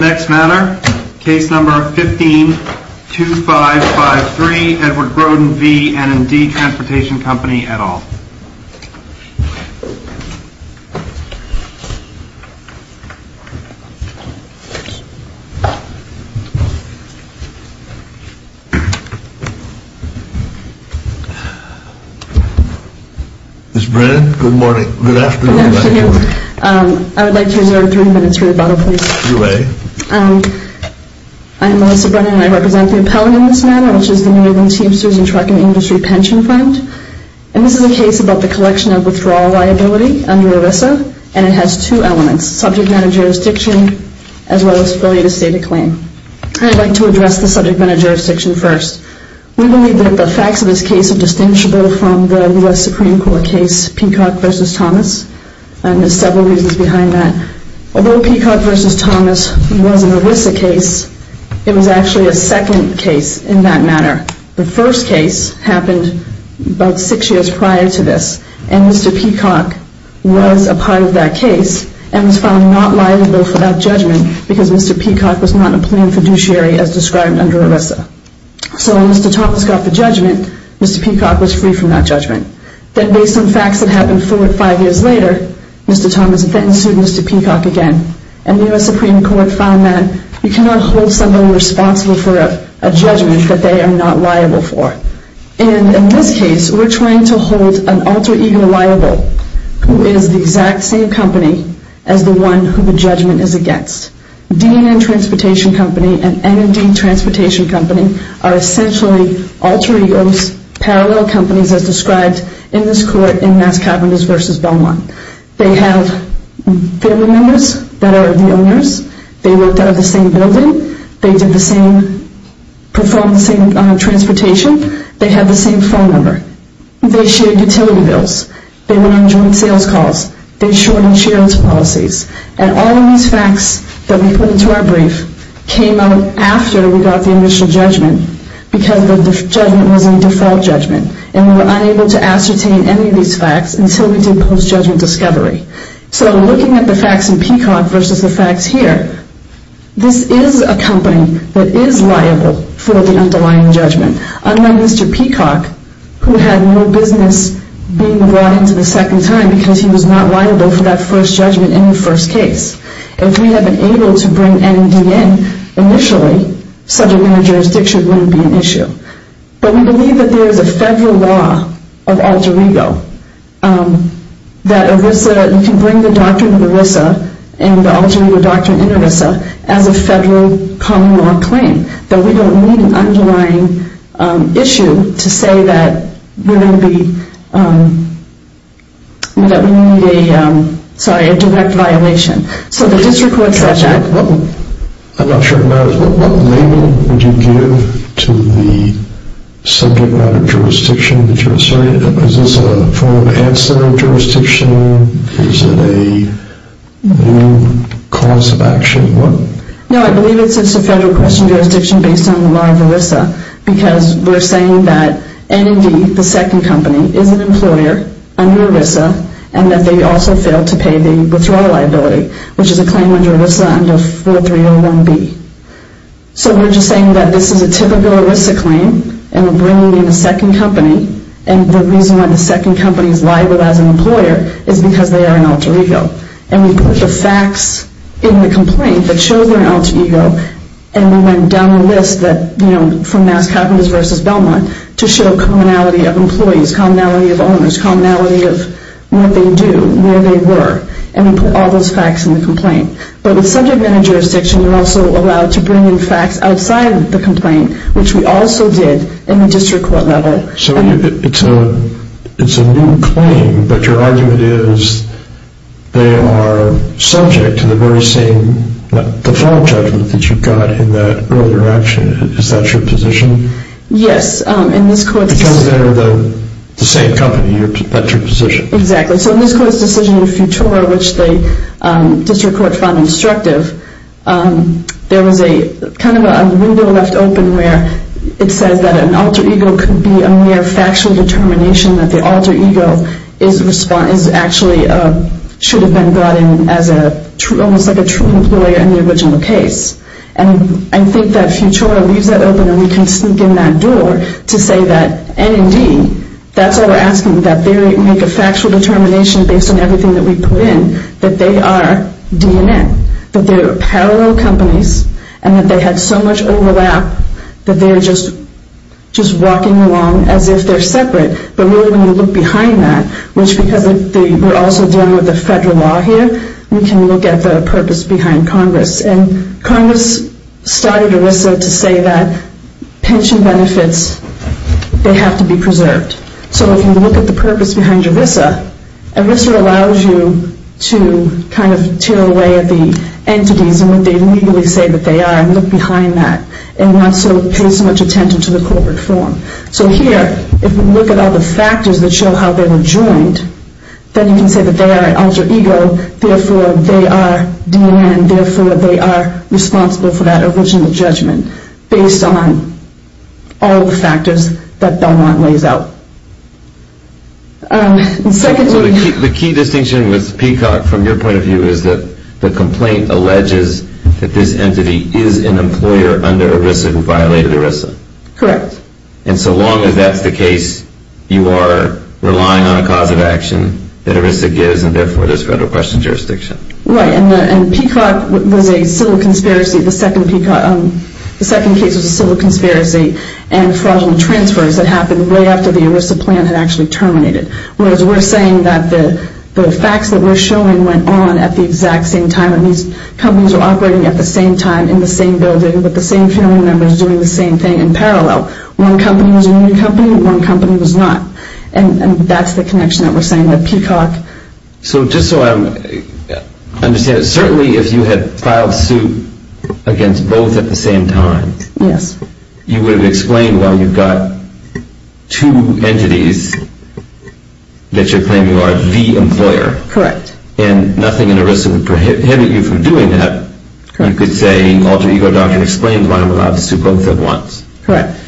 Next matter, case number 15-2553, Edward Broden v. N&D Transportation Co., et al. Ms. Brennan, good morning, good afternoon. Good afternoon, Mr. Higgins. I would like to reserve three minutes for the bottle, please. You may. I am Melissa Brennan, and I represent the appellant in this matter, which is the New England Teamsters and Trucking Industry Pension Fund. And this is a case about the collection of withdrawal liability under ERISA, and it has two elements, subject matter jurisdiction as well as failure to state a claim. I'd like to address the subject matter jurisdiction first. We believe that the facts of this case are distinguishable from the U.S. Supreme Court case Peacock v. Thomas, and there's several reasons behind that. Although Peacock v. Thomas was an ERISA case, it was actually a second case in that matter. The first case happened about six years prior to this, and Mr. Peacock was a part of that case and was found not liable for that judgment because Mr. Peacock was not a plain fiduciary as described under ERISA. So when Mr. Thomas got the judgment, Mr. Peacock was free from that judgment. Then based on facts that happened four or five years later, Mr. Thomas then sued Mr. Peacock again, and the U.S. Supreme Court found that you cannot hold someone responsible for a judgment that they are not liable for. And in this case, we're trying to hold an alter ego liable who is the exact same company as the one who the judgment is against. DNN Transportation Company and NND Transportation Company are essentially alter egos, parallel companies, as described in this court in Mass Cavernous v. Beaumont. They have family members that are the owners. They worked out of the same building. They did the same, performed the same transportation. They have the same phone number. They shared utility bills. They were on joint sales calls. They shortened shares policies. And all of these facts that we put into our brief came out after we got the initial judgment because the judgment was a default judgment, and we were unable to ascertain any of these facts until we did post-judgment discovery. So looking at the facts in Peacock versus the facts here, this is a company that is liable for the underlying judgment. Unlike Mr. Peacock, who had no business being brought into the second time because he was not liable for that first judgment in the first case. If we had been able to bring NND in initially, subject matter jurisdiction, it wouldn't be an issue. But we believe that there is a federal law of alter ego that you can bring the doctrine of ERISA and the alter ego doctrine in ERISA as a federal common law claim, that we don't need an underlying issue to say that we need a direct violation. So the district court said that. I'm not sure what label would you give to the subject matter jurisdiction? Is this a form of ancillary jurisdiction? Is it a new cause of action? No, I believe it's a federal question jurisdiction based on the law of ERISA because we're saying that NND, the second company, is an employer under ERISA and that they also failed to pay the withdrawal liability, which is a claim under ERISA under 4301B. So we're just saying that this is a typical ERISA claim and we're bringing in a second company and the reason why the second company is liable as an employer is because they are an alter ego. And we put the facts in the complaint that show they're an alter ego and we went down the list from Mass Caverns v. Belmont to show commonality of employees, commonality of owners, commonality of what they do, where they were, and we put all those facts in the complaint. But with subject matter jurisdiction, you're also allowed to bring in facts outside of the complaint, which we also did in the district court level. So it's a new claim, but your argument is they are subject to the very same default judgment that you got in that earlier action. Is that your position? Yes. Because they're the same company. That's your position. Exactly. So in this court's decision in Futura, which the district court found instructive, there was kind of a window left open where it says that an alter ego could be a mere factual determination that the alter ego is actually, should have been brought in as almost like a true employer in the original case. And I think that Futura leaves that open and we can sneak in that door to say that N&D, that's what we're asking, that they make a factual determination based on everything that we put in, that they are DNN, that they're parallel companies and that they had so much overlap that they're just walking along as if they're separate. But really when you look behind that, which because we're also dealing with the federal law here, we can look at the purpose behind Congress. And Congress started ERISA to say that pension benefits, they have to be preserved. So if you look at the purpose behind ERISA, ERISA allows you to kind of tear away at the entities and what they legally say that they are and look behind that and not so pay so much attention to the corporate form. So here, if we look at all the factors that show how they were joined, then you can say that they are an alter ego, therefore they are DNN, therefore they are responsible for that original judgment based on all the factors that Belmont lays out. The key distinction with Peacock from your point of view is that the complaint alleges that this entity is an employer under ERISA who violated ERISA. Correct. And so long as that's the case, you are relying on a cause of action that ERISA gives and therefore there's federal question jurisdiction. Right. And Peacock was a civil conspiracy, the second case was a civil conspiracy and fraudulent transfers that happened right after the ERISA plan had actually terminated. Whereas we're saying that the facts that we're showing went on at the exact same time and these companies were operating at the same time in the same building with the same family members doing the same thing in parallel. One company was a new company, one company was not. And that's the connection that we're saying with Peacock. So just so I understand, certainly if you had filed suit against both at the same time. Yes. You would have explained why you've got two entities that you're claiming are the employer. Correct. And nothing in ERISA would prohibit you from doing that. Correct. You could say alter ego doctrine explains why I'm allowed to sue both at once. Correct.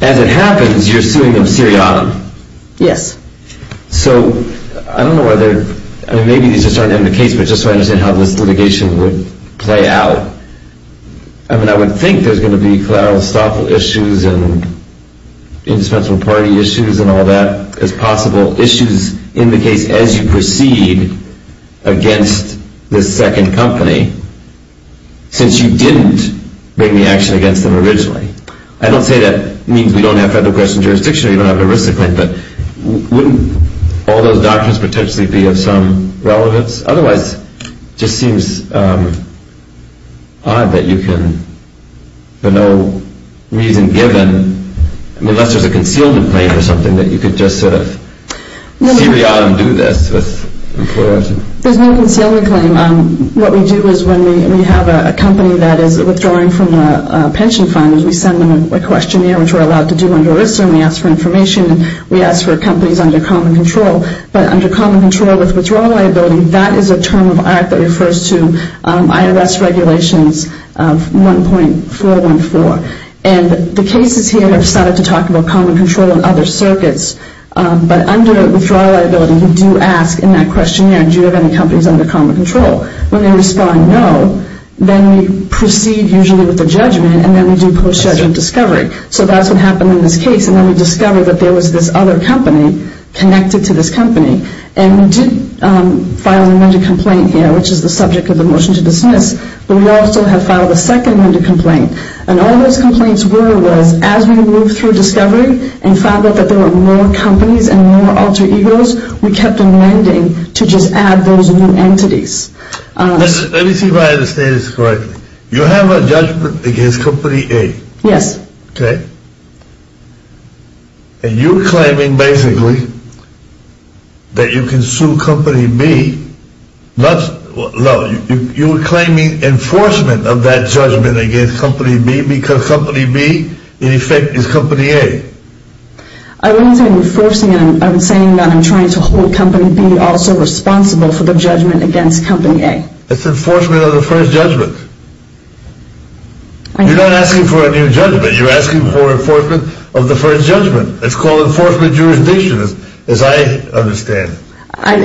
As it happens, you're suing them seriatim. Yes. So I don't know whether, I mean maybe these just aren't in the case, but just so I understand how this litigation would play out. I mean I would think there's going to be collateral stock issues and indispensable party issues and all that is possible. Issues in the case as you proceed against the second company since you didn't bring the action against them originally. I don't say that means we don't have federal question jurisdiction or you don't have an ERISA claim, but wouldn't all those doctrines potentially be of some relevance? Otherwise, it just seems odd that you can, for no reason given, unless there's a concealment claim or something, that you could just sort of seriatim do this with employers. There's no concealment claim. What we do is when we have a company that is withdrawing from a pension fund, we send them a questionnaire which we're allowed to do under ERISA and we ask for information. We ask for companies under common control, but under common control with withdrawal liability, that is a term of art that refers to IRS regulations of 1.414. And the cases here have started to talk about common control in other circuits, but under withdrawal liability we do ask in that questionnaire, do you have any companies under common control? When they respond no, then we proceed usually with a judgment and then we do post-judgment discovery. So that's what happened in this case, and then we discovered that there was this other company connected to this company. And we did file a window complaint here, which is the subject of the motion to dismiss, but we also have filed a second window complaint. And all those complaints were was as we moved through discovery and found out that there were more companies and more alter egos, we kept on lending to just add those new entities. Let me see if I understand this correctly. You have a judgment against company A? Yes. Okay. And you're claiming basically that you can sue company B. No, you're claiming enforcement of that judgment against company B because company B in effect is company A. I wasn't enforcing it. I'm saying that I'm trying to hold company B also responsible for the judgment against company A. It's enforcement of the first judgment. You're not asking for a new judgment. You're asking for enforcement of the first judgment. It's called enforcement jurisdiction as I understand. I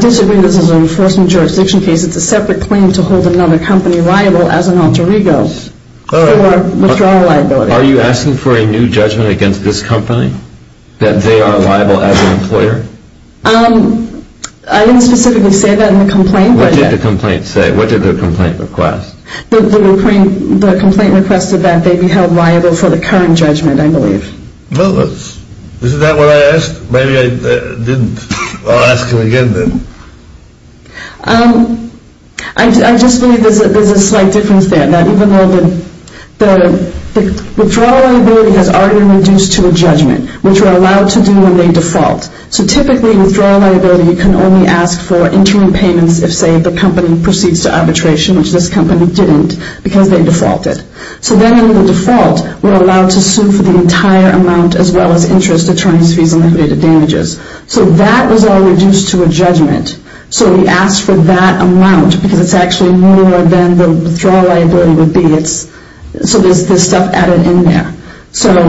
disagree. This is an enforcement jurisdiction case. It's a separate claim to hold another company liable as an alter ego for withdrawal liability. Are you asking for a new judgment against this company that they are liable as an employer? I didn't specifically say that in the complaint. What did the complaint say? What did the complaint request? The complaint requested that they be held liable for the current judgment, I believe. Well, isn't that what I asked? Maybe I didn't. I'll ask him again then. I just believe there's a slight difference there, that even though the withdrawal liability has already been reduced to a judgment, which we're allowed to do when they default. So typically, withdrawal liability, you can only ask for interim payments if, say, the company proceeds to arbitration, which this company didn't because they defaulted. So then in the default, we're allowed to sue for the entire amount as well as interest, attorneys' fees, and liquidated damages. So that was all reduced to a judgment. So we asked for that amount because it's actually more than the withdrawal liability would be. So there's stuff added in there. So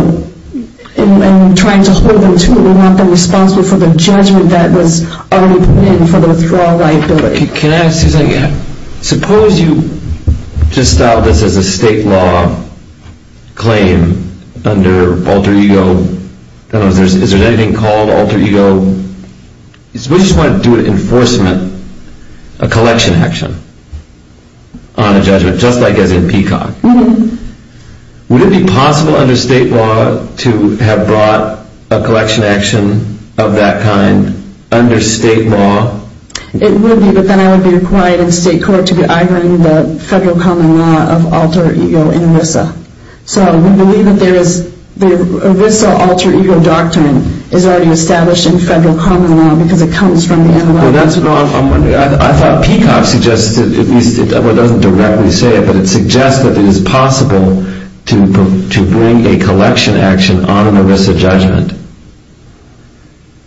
in trying to hold them to it, we want them responsible for the judgment that was already put in for the withdrawal liability. Can I ask you something? Suppose you just styled this as a state law claim under alter ego. I don't know, is there anything called alter ego? Suppose you just wanted to do an enforcement, a collection action on a judgment, just like as in Peacock. Would it be possible under state law to have brought a collection action of that kind under state law? It would be, but then I would be required in state court to be ironing the federal common law of alter ego in ERISA. So we believe that the ERISA alter ego doctrine is already established in federal common law because it comes from the NLR. Well, that's what I'm wondering. I thought Peacock suggested, at least it doesn't directly say it, but it suggests that it is possible to bring a collection action on an ERISA judgment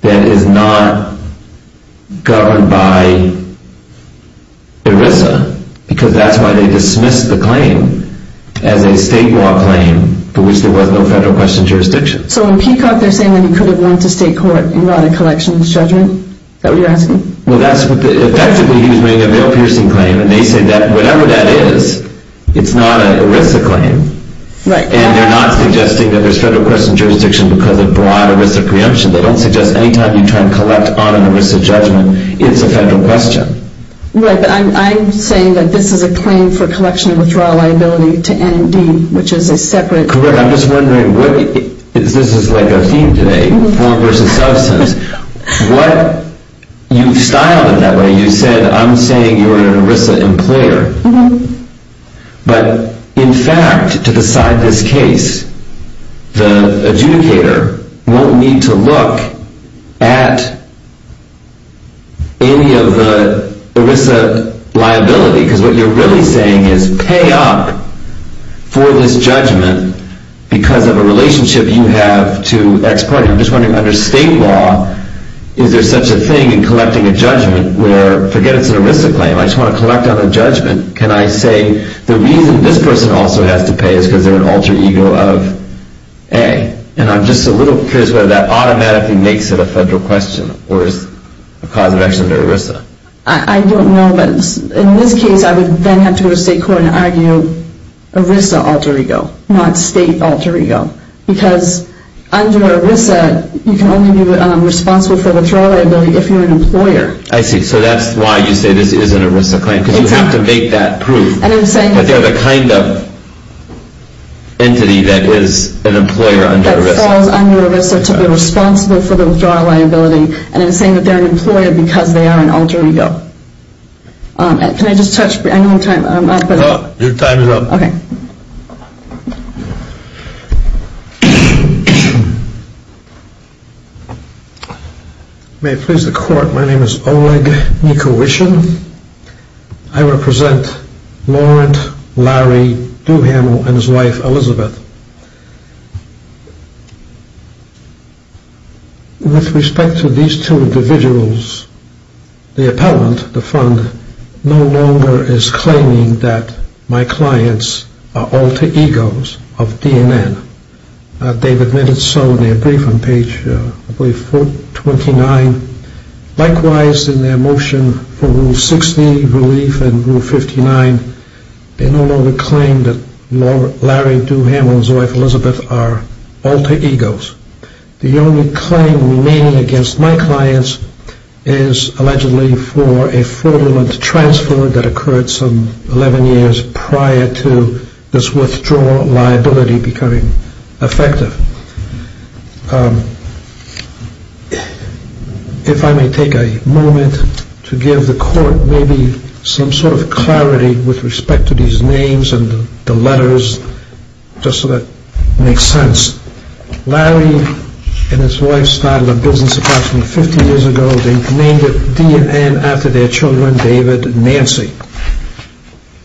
that is not governed by ERISA, because that's why they dismissed the claim as a state law claim for which there was no federal question of jurisdiction. So in Peacock they're saying that he could have went to state court and brought a collections judgment? Is that what you're asking? Effectively, he was making a bail-piercing claim, and they say that whatever that is, it's not an ERISA claim. And they're not suggesting that there's federal question of jurisdiction because it brought ERISA preemption. They don't suggest any time you try and collect on an ERISA judgment, it's a federal question. Right, but I'm saying that this is a claim for collection of withdrawal liability to NMD, which is a separate... Correct. I'm just wondering, this is like our theme today, form versus substance. You've styled it that way. You said, I'm saying you're an ERISA employer. But in fact, to decide this case, the adjudicator won't need to look at any of the ERISA liability, because what you're really saying is, pay up for this judgment because of a relationship you have to ex parte. And I'm just wondering, under state law, is there such a thing in collecting a judgment where, forget it's an ERISA claim, I just want to collect on a judgment, can I say the reason this person also has to pay is because they're an alter ego of A? And I'm just a little curious whether that automatically makes it a federal question or is a cause of action to ERISA. I don't know, but in this case, I would then have to go to state court and argue ERISA alter ego, not state alter ego. Because under ERISA, you can only be responsible for withdrawal liability if you're an employer. I see. So that's why you say this is an ERISA claim. Exactly. Because you have to make that proof. And I'm saying. That they're the kind of entity that is an employer under ERISA. That falls under ERISA to be responsible for the withdrawal liability. And I'm saying that they're an employer because they are an alter ego. Can I just touch, I know I'm out of time. Your time is up. Okay. Thank you. May it please the court, my name is Oleg Nikowishin. I represent Laurent Larry Duhamel and his wife Elizabeth. With respect to these two individuals, the appellant, the fund, no longer is claiming that my clients are alter egos of DNN. They've admitted so in their brief on page 429. Likewise, in their motion for Rule 60, Relief, and Rule 59, they no longer claim that Larry Duhamel and his wife Elizabeth are alter egos. The only claim remaining against my clients is allegedly for a fraudulent transfer that occurred some 11 years prior to this withdrawal liability becoming effective. If I may take a moment to give the court maybe some sort of clarity with respect to these names and the letters, just so that it makes sense. Larry and his wife started a business approximately 50 years ago. They named it DNN after their children, David and Nancy.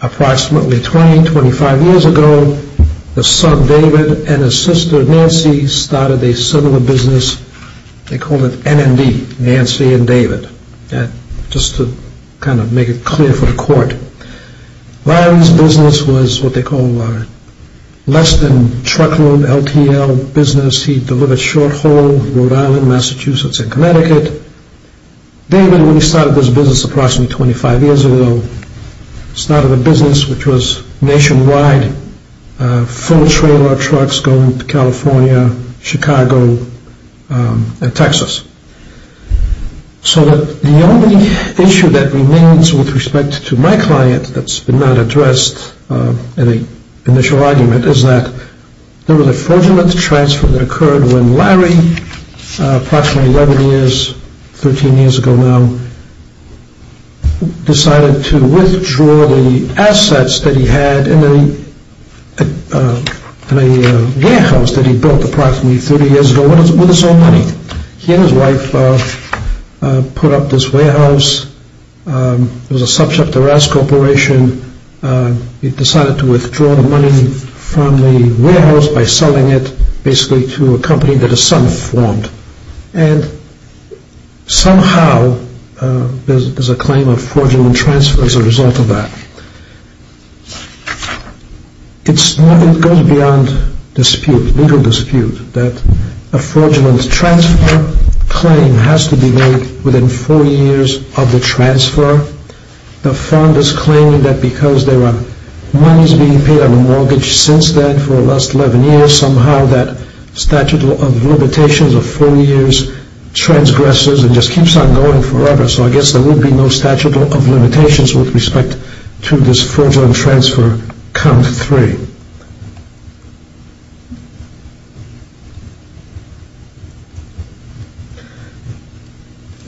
Approximately 20, 25 years ago, the son David and his sister Nancy started a similar business. They called it NND, Nancy and David. Just to kind of make it clear for the court. Larry's business was what they call less than truckload LTL business. He delivered short haul, Rhode Island, Massachusetts, and Connecticut. David, when he started this business approximately 25 years ago, started a business which was nationwide, full trailer trucks going to California, Chicago, and Texas. So that the only issue that remains with respect to my client that's not addressed in the initial argument is that there was a fraudulent transfer that occurred when Larry approximately 11 years, 13 years ago now, decided to withdraw the assets that he had in a warehouse that he built approximately 30 years ago with his own money. He and his wife put up this warehouse. It was a subcontractor-ass corporation. He decided to withdraw the money from the warehouse by selling it basically to a company that his son formed. And somehow there's a claim of fraudulent transfer as a result of that. It goes beyond dispute, legal dispute, that a fraudulent transfer claim has to be made within four years of the transfer. The fund is claiming that because there are monies being paid on a mortgage since then for the last 11 years, somehow that statute of limitations of four years transgresses and just keeps on going forever. So I guess there will be no statute of limitations with respect to this fraudulent transfer count three.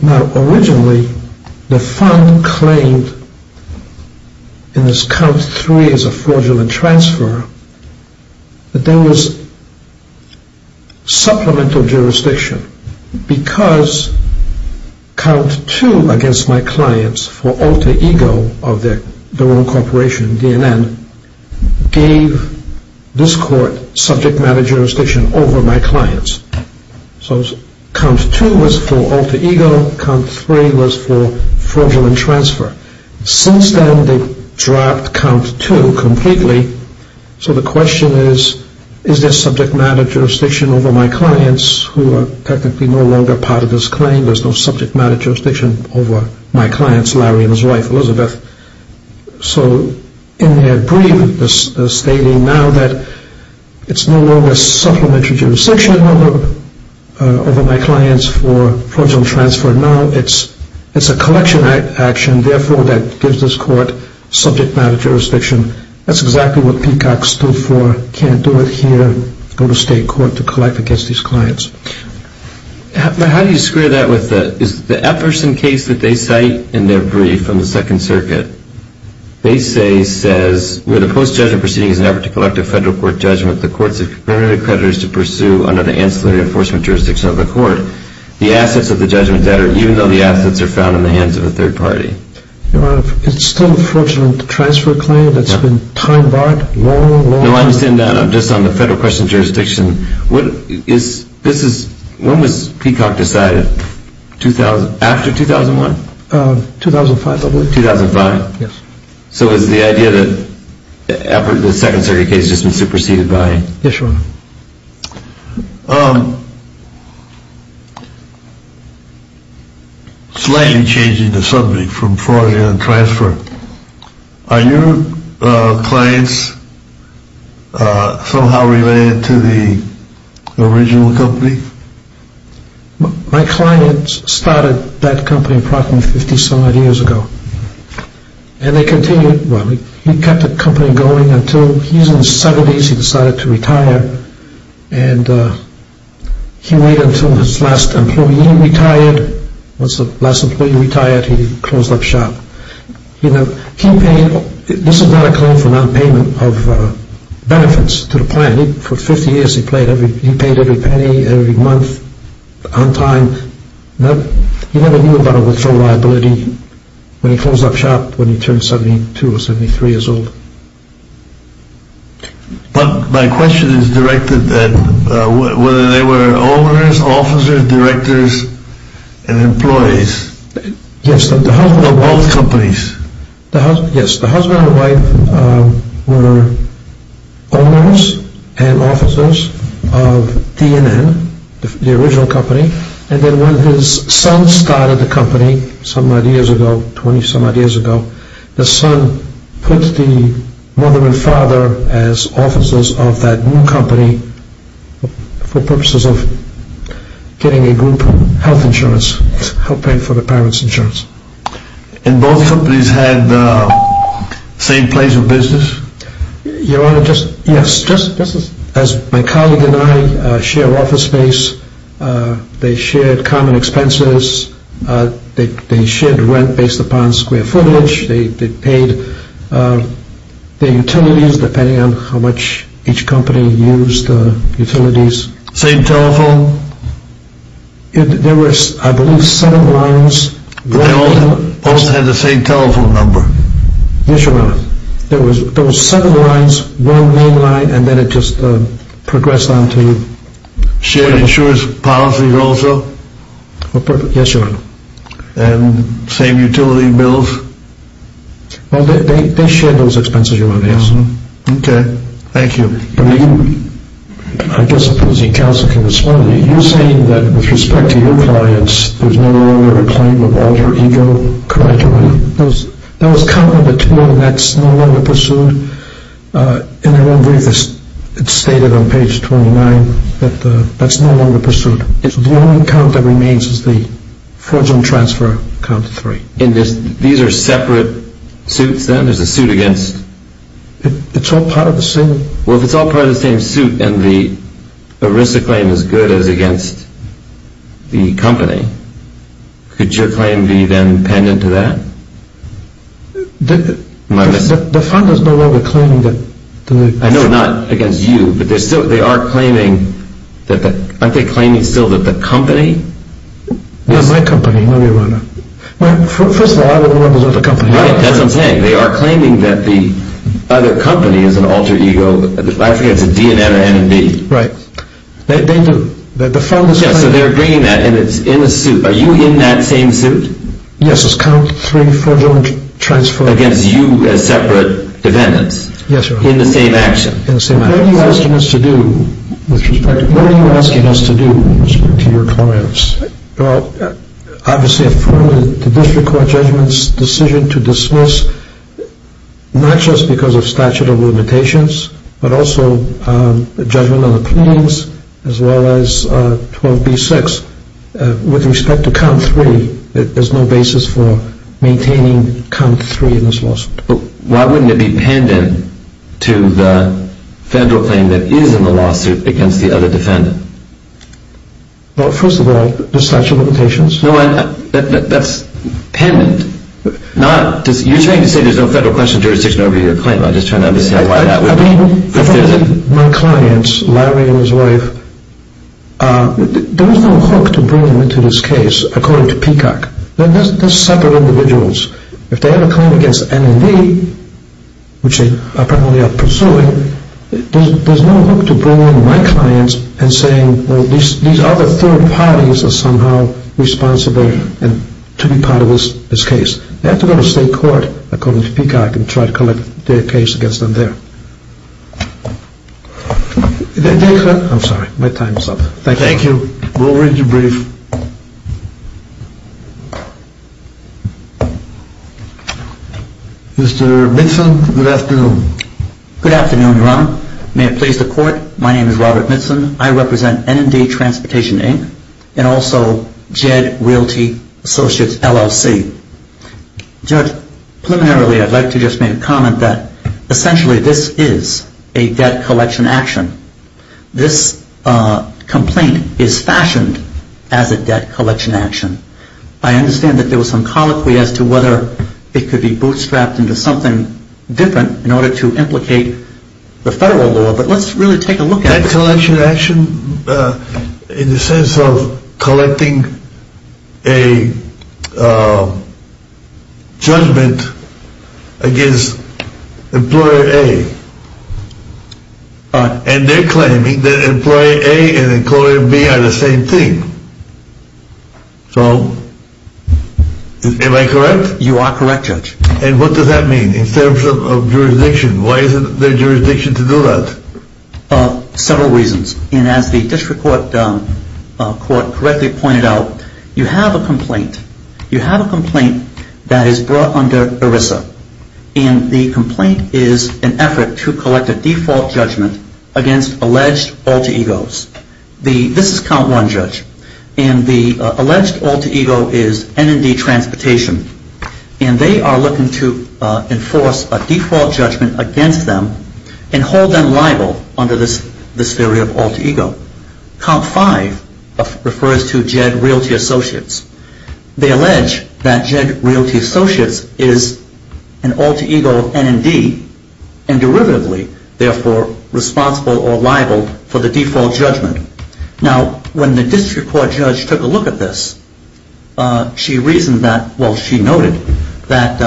Now originally the fund claimed in this count three as a fraudulent transfer that there was supplemental jurisdiction because count two against my clients for alter ego of their own corporation, DNN, gave this court subject matter jurisdiction over my clients. So count two was for alter ego. Count three was for fraudulent transfer. Since then they've dropped count two completely. So the question is, is there subject matter jurisdiction over my clients who are technically no longer part of this claim? There's no subject matter jurisdiction over my clients, Larry and his wife Elizabeth. So in their brief they're stating now that it's no longer supplementary jurisdiction over my clients for fraudulent transfer. Now it's a collection action therefore that gives this court subject matter jurisdiction. That's exactly what Peacock stood for, can't do it here, go to state court to collect against these clients. But how do you square that with the Efferson case that they cite in their brief from the Second Circuit? They say, says, where the post-judgment proceeding is an effort to collect a federal court judgment, the courts have permitted creditors to pursue under the ancillary enforcement jurisdiction of the court the assets of the judgment debtor even though the assets are found in the hands of a third party. Your Honor, it's still a fraudulent transfer claim that's been time barred long, long ago. No, I understand that. I'm just on the federal question jurisdiction. When was Peacock decided? After 2001? 2005, I believe. 2005? Yes. So is the idea that the Second Circuit case has just been superseded by... Yes, Your Honor. Slightly changing the subject from fraudulent transfer. Are your clients somehow related to the original company? My client started that company approximately 50 some odd years ago. And they continued... Well, he kept the company going until... He's in his 70s, he decided to retire, and he waited until his last employee retired. Once the last employee retired, he closed up shop. You know, he paid... This is not a claim for non-payment of benefits to the client. For 50 years, he paid every penny, every month, on time. He never knew about a withdrawal liability when he closed up shop when he turned 72 or 73 years old. But my question is directed at whether they were owners, officers, directors, and employees of both companies. Yes, the husband and wife were owners and officers of DNN, the original company. And then when his son started the company some odd years ago, 20 some odd years ago, the son put the mother and father as officers of that new company for purposes of getting a group health insurance, to help pay for the parents' insurance. And both companies had the same place of business? Your Honor, yes, just as my colleague and I share office space, they shared common expenses, they shared rent based upon square footage, they paid their utilities depending on how much each company used utilities. Same telephone? There were, I believe, seven lines. They all had the same telephone number? Yes, Your Honor. There were seven lines, one main line, and then it just progressed on to... Shared insurance policies also? Yes, Your Honor. And same utility bills? Well, they shared those expenses, Your Honor. Okay, thank you. I guess the opposing counsel can respond. You're saying that with respect to your clients, there's no longer a claim of alter ego, correct, Your Honor? There was count number two, and that's no longer pursued, and I believe it's stated on page 29 that that's no longer pursued. The only count that remains is the fraudulent transfer count three. And these are separate suits then? There's a suit against... It's all part of the same... Well, if it's all part of the same suit, and the ERISA claim is good as against the company, could your claim be then pendant to that? The fund is no longer claiming that... I know, not against you, but they are claiming that... Aren't they claiming still that the company... Yes, my company, Your Honor. Well, first of all, I don't want to look at the company. Right, that's what I'm saying. They are claiming that the other company is an alter ego. I forget if it's a D, an M, or N, or B. Right. They do. Yes, so they're agreeing that, and it's in the suit. Are you in that same suit? Yes, it's count three fraudulent transfer... Against you as separate defendants? Yes, Your Honor. In the same action? In the same action. What are you asking us to do with respect to your claims? Well, obviously, I've formally, to this court, judgment's decision to dismiss, not just because of statute of limitations, but also the judgment on the pleadings, as well as 12b-6. With respect to count three, there's no basis for maintaining count three in this lawsuit. Well, why wouldn't it be pendent to the federal claim that is in the lawsuit against the other defendant? Well, first of all, the statute of limitations... No, that's pendent. You're trying to say there's no federal question of jurisdiction over your claim. No, I'm just trying to understand why that would be... I mean, my clients, Larry and his wife, there is no hook to bring them into this case, according to Peacock. They're separate individuals. If they have a claim against NMD, which they apparently are pursuing, there's no hook to bring in my clients and saying, well, these other third parties are somehow responsible to be part of this case. They have to go to state court, according to Peacock, and try to collect their case against them there. I'm sorry, my time is up. Thank you. We'll read you brief. Mr. Mitzen, good afternoon. Good afternoon, Your Honor. May it please the Court, my name is Robert Mitzen. I represent NMD Transportation, Inc., and also Jed Realty Associates, LLC. Judge, preliminarily, I'd like to just make a comment that essentially this is a debt collection action. This complaint is fashioned as a debt collection action. I understand that there was some colloquy as to whether it could be bootstrapped into something different in order to implicate the federal law, but let's really take a look at it. It's a debt collection action in the sense of collecting a judgment against Employer A, and they're claiming that Employer A and Employer B are the same thing. So, am I correct? You are correct, Judge. And what does that mean in terms of jurisdiction? Why is it their jurisdiction to do that? Several reasons, and as the District Court correctly pointed out, you have a complaint. You have a complaint that is brought under ERISA, and the complaint is an effort to collect a default judgment against alleged alter egos. This is Count 1, Judge, and the alleged alter ego is NMD Transportation, and they are looking to enforce a default judgment against them and hold them liable under this theory of alter ego. Count 5 refers to Jed Realty Associates. They allege that Jed Realty Associates is an alter ego of NMD and derivatively, therefore, responsible or liable for the default judgment. Now, when the District Court judge took a look at this, she reasoned that, well, she noted that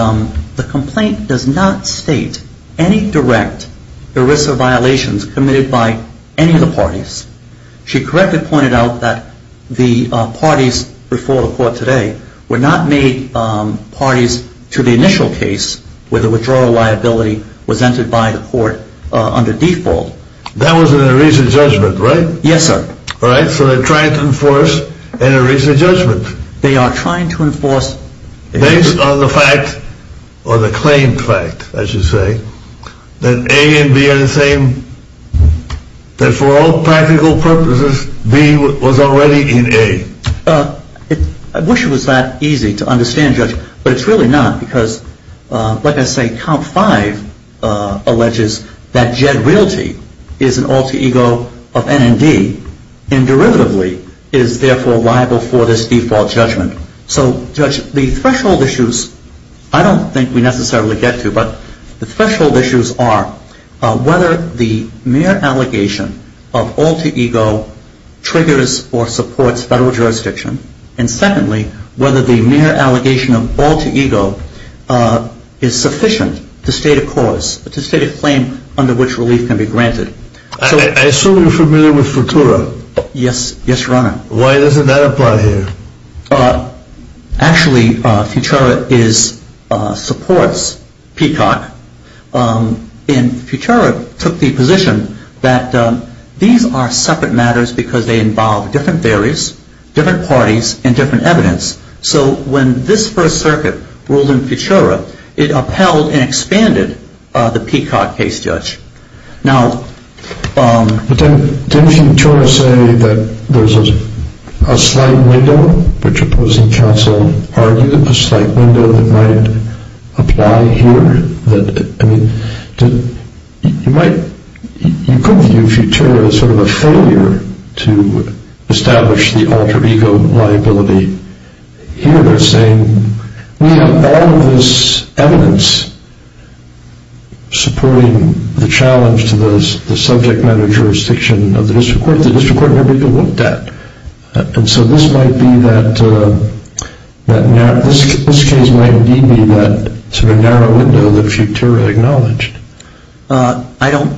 the complaint does not state any direct ERISA violations committed by any of the parties. She correctly pointed out that the parties before the court today were not made parties to the initial case where the withdrawal liability was entered by the court under default. That was an ERISA judgment, right? Yes, sir. All right, so they're trying to enforce an ERISA judgment. They are trying to enforce... Based on the fact, or the claimed fact, I should say, that A and B are the same, that for all practical purposes, B was already in A. I wish it was that easy to understand, Judge, but it's really not, because, like I say, Count 5 alleges that Jed Realty is an alter ego of NMD and, derivatively, is, therefore, liable for this default judgment. So, Judge, the threshold issues, I don't think we necessarily get to, but the threshold issues are whether the mere allegation of alter ego triggers or supports federal jurisdiction, and, secondly, whether the mere allegation of alter ego is sufficient to state a cause, to state a claim under which relief can be granted. I assume you're familiar with Futura? Yes, Your Honor. Why doesn't that apply here? Actually, Futura supports Peacock, and Futura took the position that these are separate matters because they involve different theories, different parties, and different evidence. So, when this First Circuit ruled in Futura, it upheld and expanded the Peacock case, Judge. Now, didn't Futura say that there's a slight window, which opposing counsel argued, a slight window that might apply here? I mean, you could view Futura as sort of a failure to establish the alter ego liability here, saying we have all of this evidence supporting the challenge to the subject matter jurisdiction of the district court. The district court never even looked at it. And so this case might indeed be that sort of narrow window that Futura acknowledged. I don't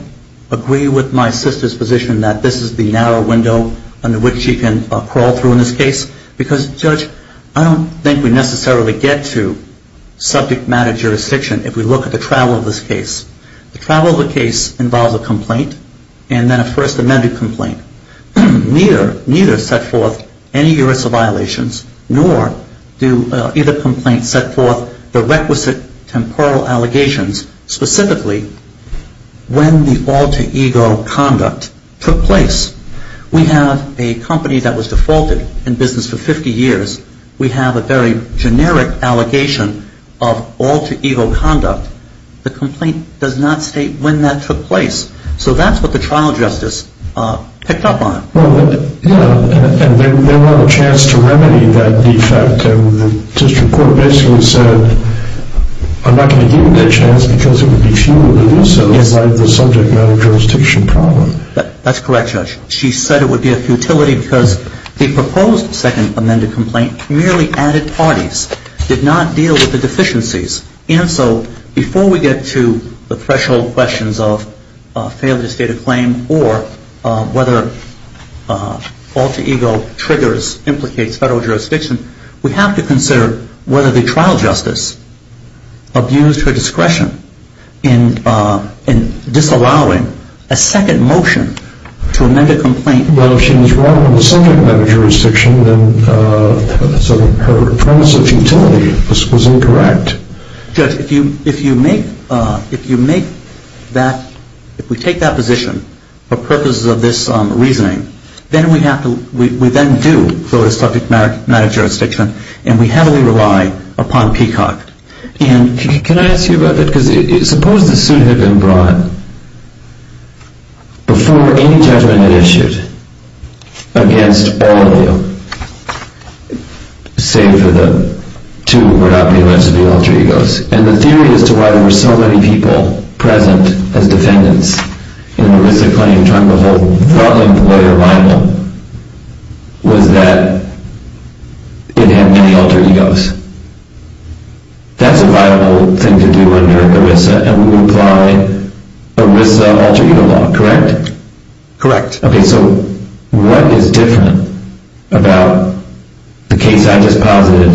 agree with my sister's position that this is the narrow window under which she can crawl through in this case because, Judge, I don't think we necessarily get to subject matter jurisdiction if we look at the travel of this case. The travel of the case involves a complaint and then a First Amendment complaint. Neither set forth any universal violations, nor do either complaint set forth the requisite temporal allegations, specifically when the alter ego conduct took place. We have a company that was defaulted in business for 50 years. We have a very generic allegation of alter ego conduct. The complaint does not state when that took place. So that's what the trial justice picked up on. Well, yeah, and they want a chance to remedy that defect. And the district court basically said, I'm not going to give them that chance because it would be futile to do so in light of the subject matter jurisdiction problem. That's correct, Judge. She said it would be a futility because the proposed Second Amendment complaint merely added parties, did not deal with the deficiencies. And so before we get to the threshold questions of failure to state a claim or whether alter ego triggers, implicates federal jurisdiction, we have to consider whether the trial justice abused her discretion in disallowing a second motion to amend a complaint. Well, if she was wrong on the subject matter jurisdiction, then her premise of futility was incorrect. Judge, if you make that, if we take that position for purposes of this reasoning, then we have to, we then do go to subject matter jurisdiction, and we heavily rely upon Peacock. And can I ask you about that? Because suppose the suit had been brought before any judgment had issued against all of you, save for the two who were not being alleged to be alter egos. And the theory as to why there were so many people present as defendants in the risk of claiming Trump, was that it had many alter egos. That's a viable thing to do under ERISA, and we would apply ERISA alter ego law, correct? Correct. Okay, so what is different about the case I just posited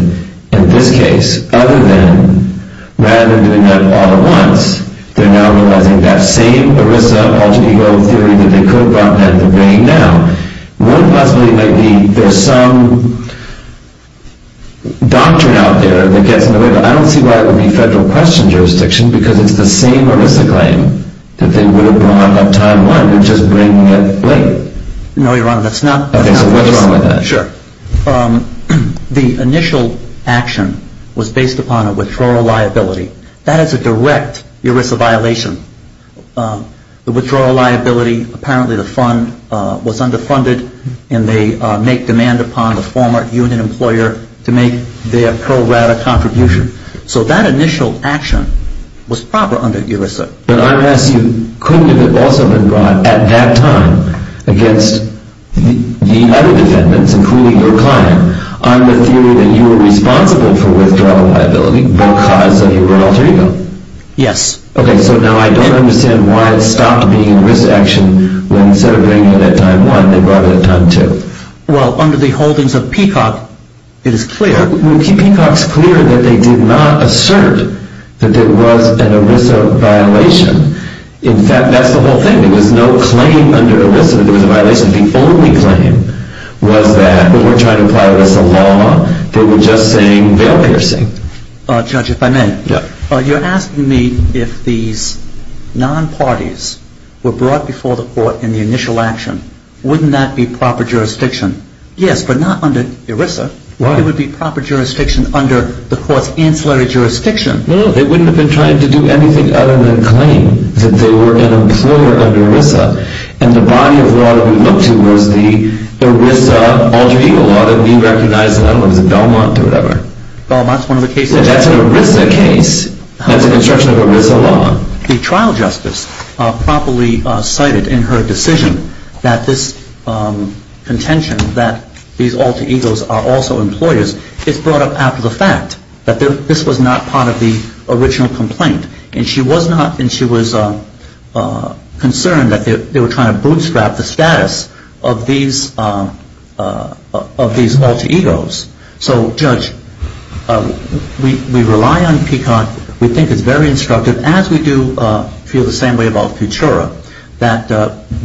and this case, other than rather than doing that all at once, they're now realizing that same ERISA alter ego theory that they co-brought that they're bringing now. One possibility might be there's some doctrine out there that gets in the way, but I don't see why it would be federal question jurisdiction, because it's the same ERISA claim that they would have brought up time one, they're just bringing it late. No, Your Honor, that's not. Okay, so what's wrong with that? Sure. The initial action was based upon a withdrawal liability. That is a direct ERISA violation. The withdrawal liability, apparently the fund was underfunded, and they make demand upon the former union employer to make their pro-rata contribution. So that initial action was proper under ERISA. But I'm going to ask you, couldn't it have also been brought at that time against the other defendants, including your client, on the theory that you were responsible for withdrawal liability, because of your alter ego? Yes. Okay, so now I don't understand why it stopped being ERISA action when instead of bringing it at time one, they brought it at time two. Well, under the holdings of Peacock, it is clear. Peacock's clear that they did not assert that there was an ERISA violation. In fact, that's the whole thing. There was no claim under ERISA that there was a violation. The only claim was that they weren't trying to apply ERISA law. They were just saying bail piercing. Judge, if I may. Yes. You're asking me if these non-parties were brought before the court in the initial action, wouldn't that be proper jurisdiction? Yes, but not under ERISA. Why? It would be proper jurisdiction under the court's ancillary jurisdiction. No, they wouldn't have been trying to do anything other than claim that they were an employer under ERISA. And the body of law that we look to was the ERISA alter ego law that we recognize. I don't know if it was Belmont or whatever. Belmont's one of the cases. That's an ERISA case. That's a construction of ERISA law. The trial justice properly cited in her decision that this contention that these alter egos are also employers, it's brought up after the fact that this was not part of the original complaint. And she was concerned that they were trying to bootstrap the status of these alter egos. So, Judge, we rely on PCOT. We think it's very instructive, as we do feel the same way about Futura, that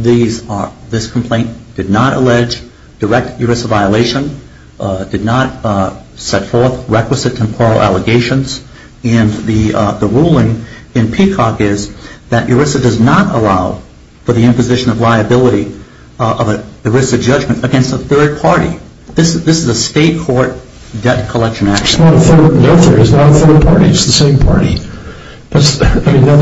this complaint did not allege direct ERISA violation, did not set forth requisite temporal allegations, and the ruling in PCOT is that ERISA does not allow for the imposition of liability of an ERISA judgment against a third party. This is a state court debt collection action. It's not a third party. It's the same party. Again,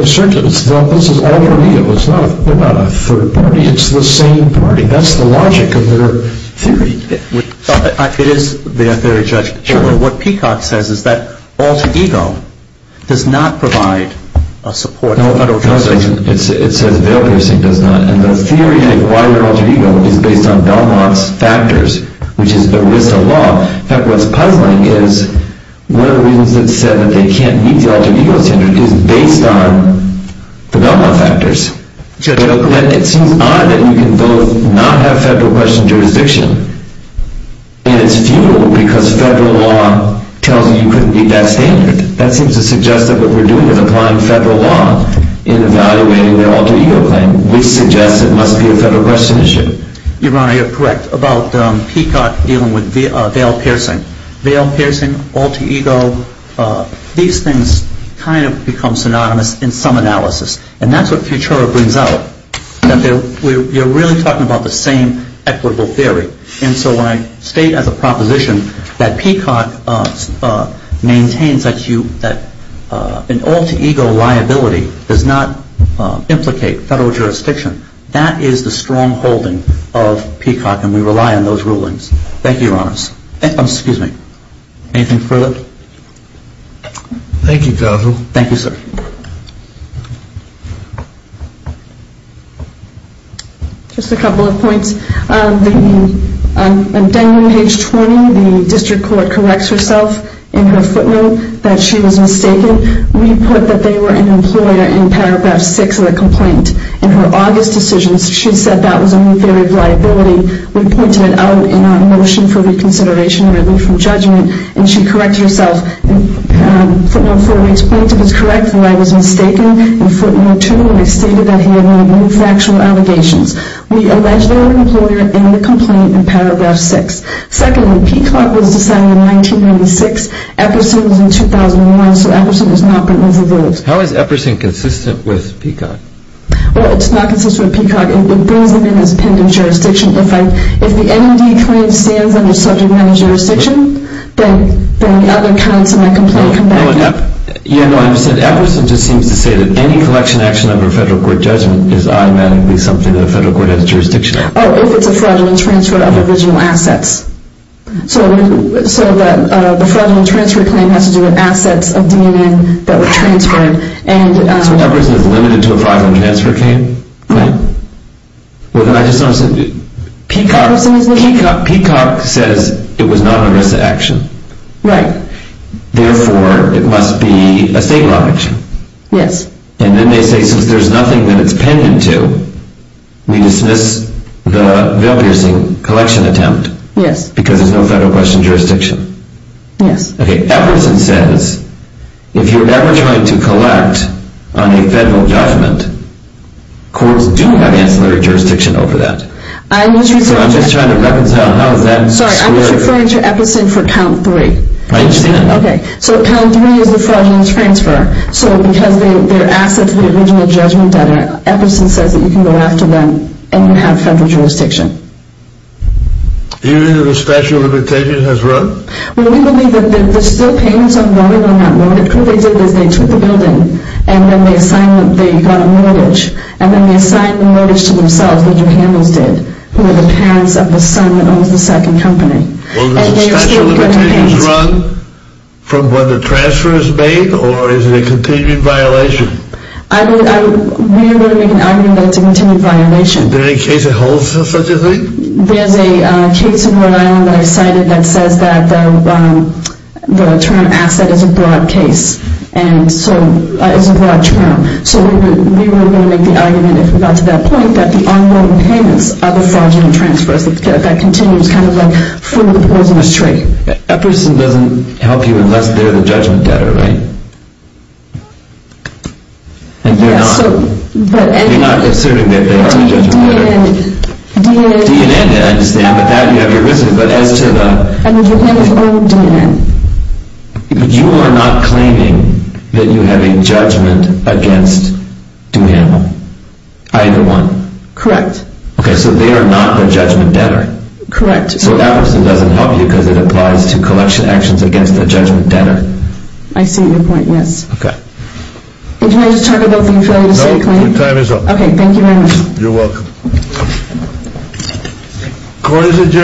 it's not an alter ego. It's not a third party. It's the same party. That's the logic of their theory. It is their theory, Judge. Well, what PCOT says is that alter ego does not provide a support for federal jurisdiction. No, it doesn't. It says veil-piercing does not. And the theory of why you're an alter ego is based on Belmont's factors, which is ERISA law. In fact, what's puzzling is one of the reasons it's said that they can't meet the alter ego standard is based on the Belmont factors. It seems odd that you can both not have federal question jurisdiction, and it's futile because federal law tells you you couldn't meet that standard. That seems to suggest that what we're doing is applying federal law in evaluating their alter ego claim, which suggests it must be a federal question issue. Your Honor, you're correct about PCOT dealing with veil-piercing. Veil-piercing, alter ego, these things kind of become synonymous in some analysis. And that's what Futura brings out, that you're really talking about the same equitable theory. And so when I state as a proposition that PCOT maintains that an alter ego liability does not implicate federal jurisdiction, that is the strongholding of PCOT, and we rely on those rulings. Thank you, Your Honors. Anything further? Thank you, counsel. Thank you, sir. Just a couple of points. On page 20, the district court corrects herself in her footnote that she was mistaken. We put that they were an employer in paragraph 6 of the complaint. In her August decision, she said that was a new theory of liability. We pointed it out in our motion for reconsideration and relief from judgment, and she corrected herself. In footnote 4, we explained she was correct and that I was mistaken. In footnote 2, we stated that he had made no factual allegations. We allege they were an employer in the complaint in paragraph 6. Secondly, PCOT was decided in 1996. Epperson was in 2001, so Epperson has not been removed. How is Epperson consistent with PCOT? Well, it's not consistent with PCOT. It brings them in as pending jurisdiction. If the NED claim stands under subject matter jurisdiction, then the other counts in my complaint come back to me. Yeah, no, I understand. Epperson just seems to say that any collection action under a federal court judgment is automatically something that a federal court has jurisdiction over. Oh, if it's a fraudulent transfer of original assets. So the fraudulent transfer claim has to do with assets of DNN that were transferred. So Epperson is limited to a fraudulent transfer claim? Well, I just want to say, PCOT says it was not an ERISA action. Right. Therefore, it must be a state law action. Yes. And then they say since there's nothing that it's pending to, we dismiss the veil-piercing collection attempt. Yes. Because there's no federal question of jurisdiction. Yes. Okay, Epperson says if you're ever trying to collect on a federal judgment, courts do have ancillary jurisdiction over that. I'm just referring to Epperson for count three. I understand. Okay, so count three is the fraudulent transfer. So because they're assets of the original judgment data, Epperson says that you can go after them and you have federal jurisdiction. Do you believe that a statute of limitations has run? Well, we believe that there's still payments on mortgage on that mortgage. What they did is they took the building and then they got a mortgage. And then they assigned the mortgage to themselves, like the Hamels did, who are the parents of the son that owns the second company. Well, does a statute of limitations run from when the transfer is made, or is it a continued violation? We are going to make an argument that it's a continued violation. Is there any case that holds to such a thing? There's a case in Rhode Island that I cited that says that the term asset is a broad term. So we were going to make the argument, if we got to that point, that the ongoing payments are the fraudulent transfers. That continues kind of like from the poisonous tree. Epperson doesn't help you unless they're the judgment debtor, right? And you're not asserting that they are the judgment debtor. DNN, I understand, but that you have your business. But as to the... I mean, you can't just own DNN. But you are not claiming that you have a judgment against DNN, either one? Correct. Okay, so they are not the judgment debtor. Correct. So Epperson doesn't help you because it applies to collection actions against the judgment debtor. I see your point, yes. Okay. Did you want to just talk about what you failed to say, Clayton? No, your time is up. Okay, thank you very much. You're welcome.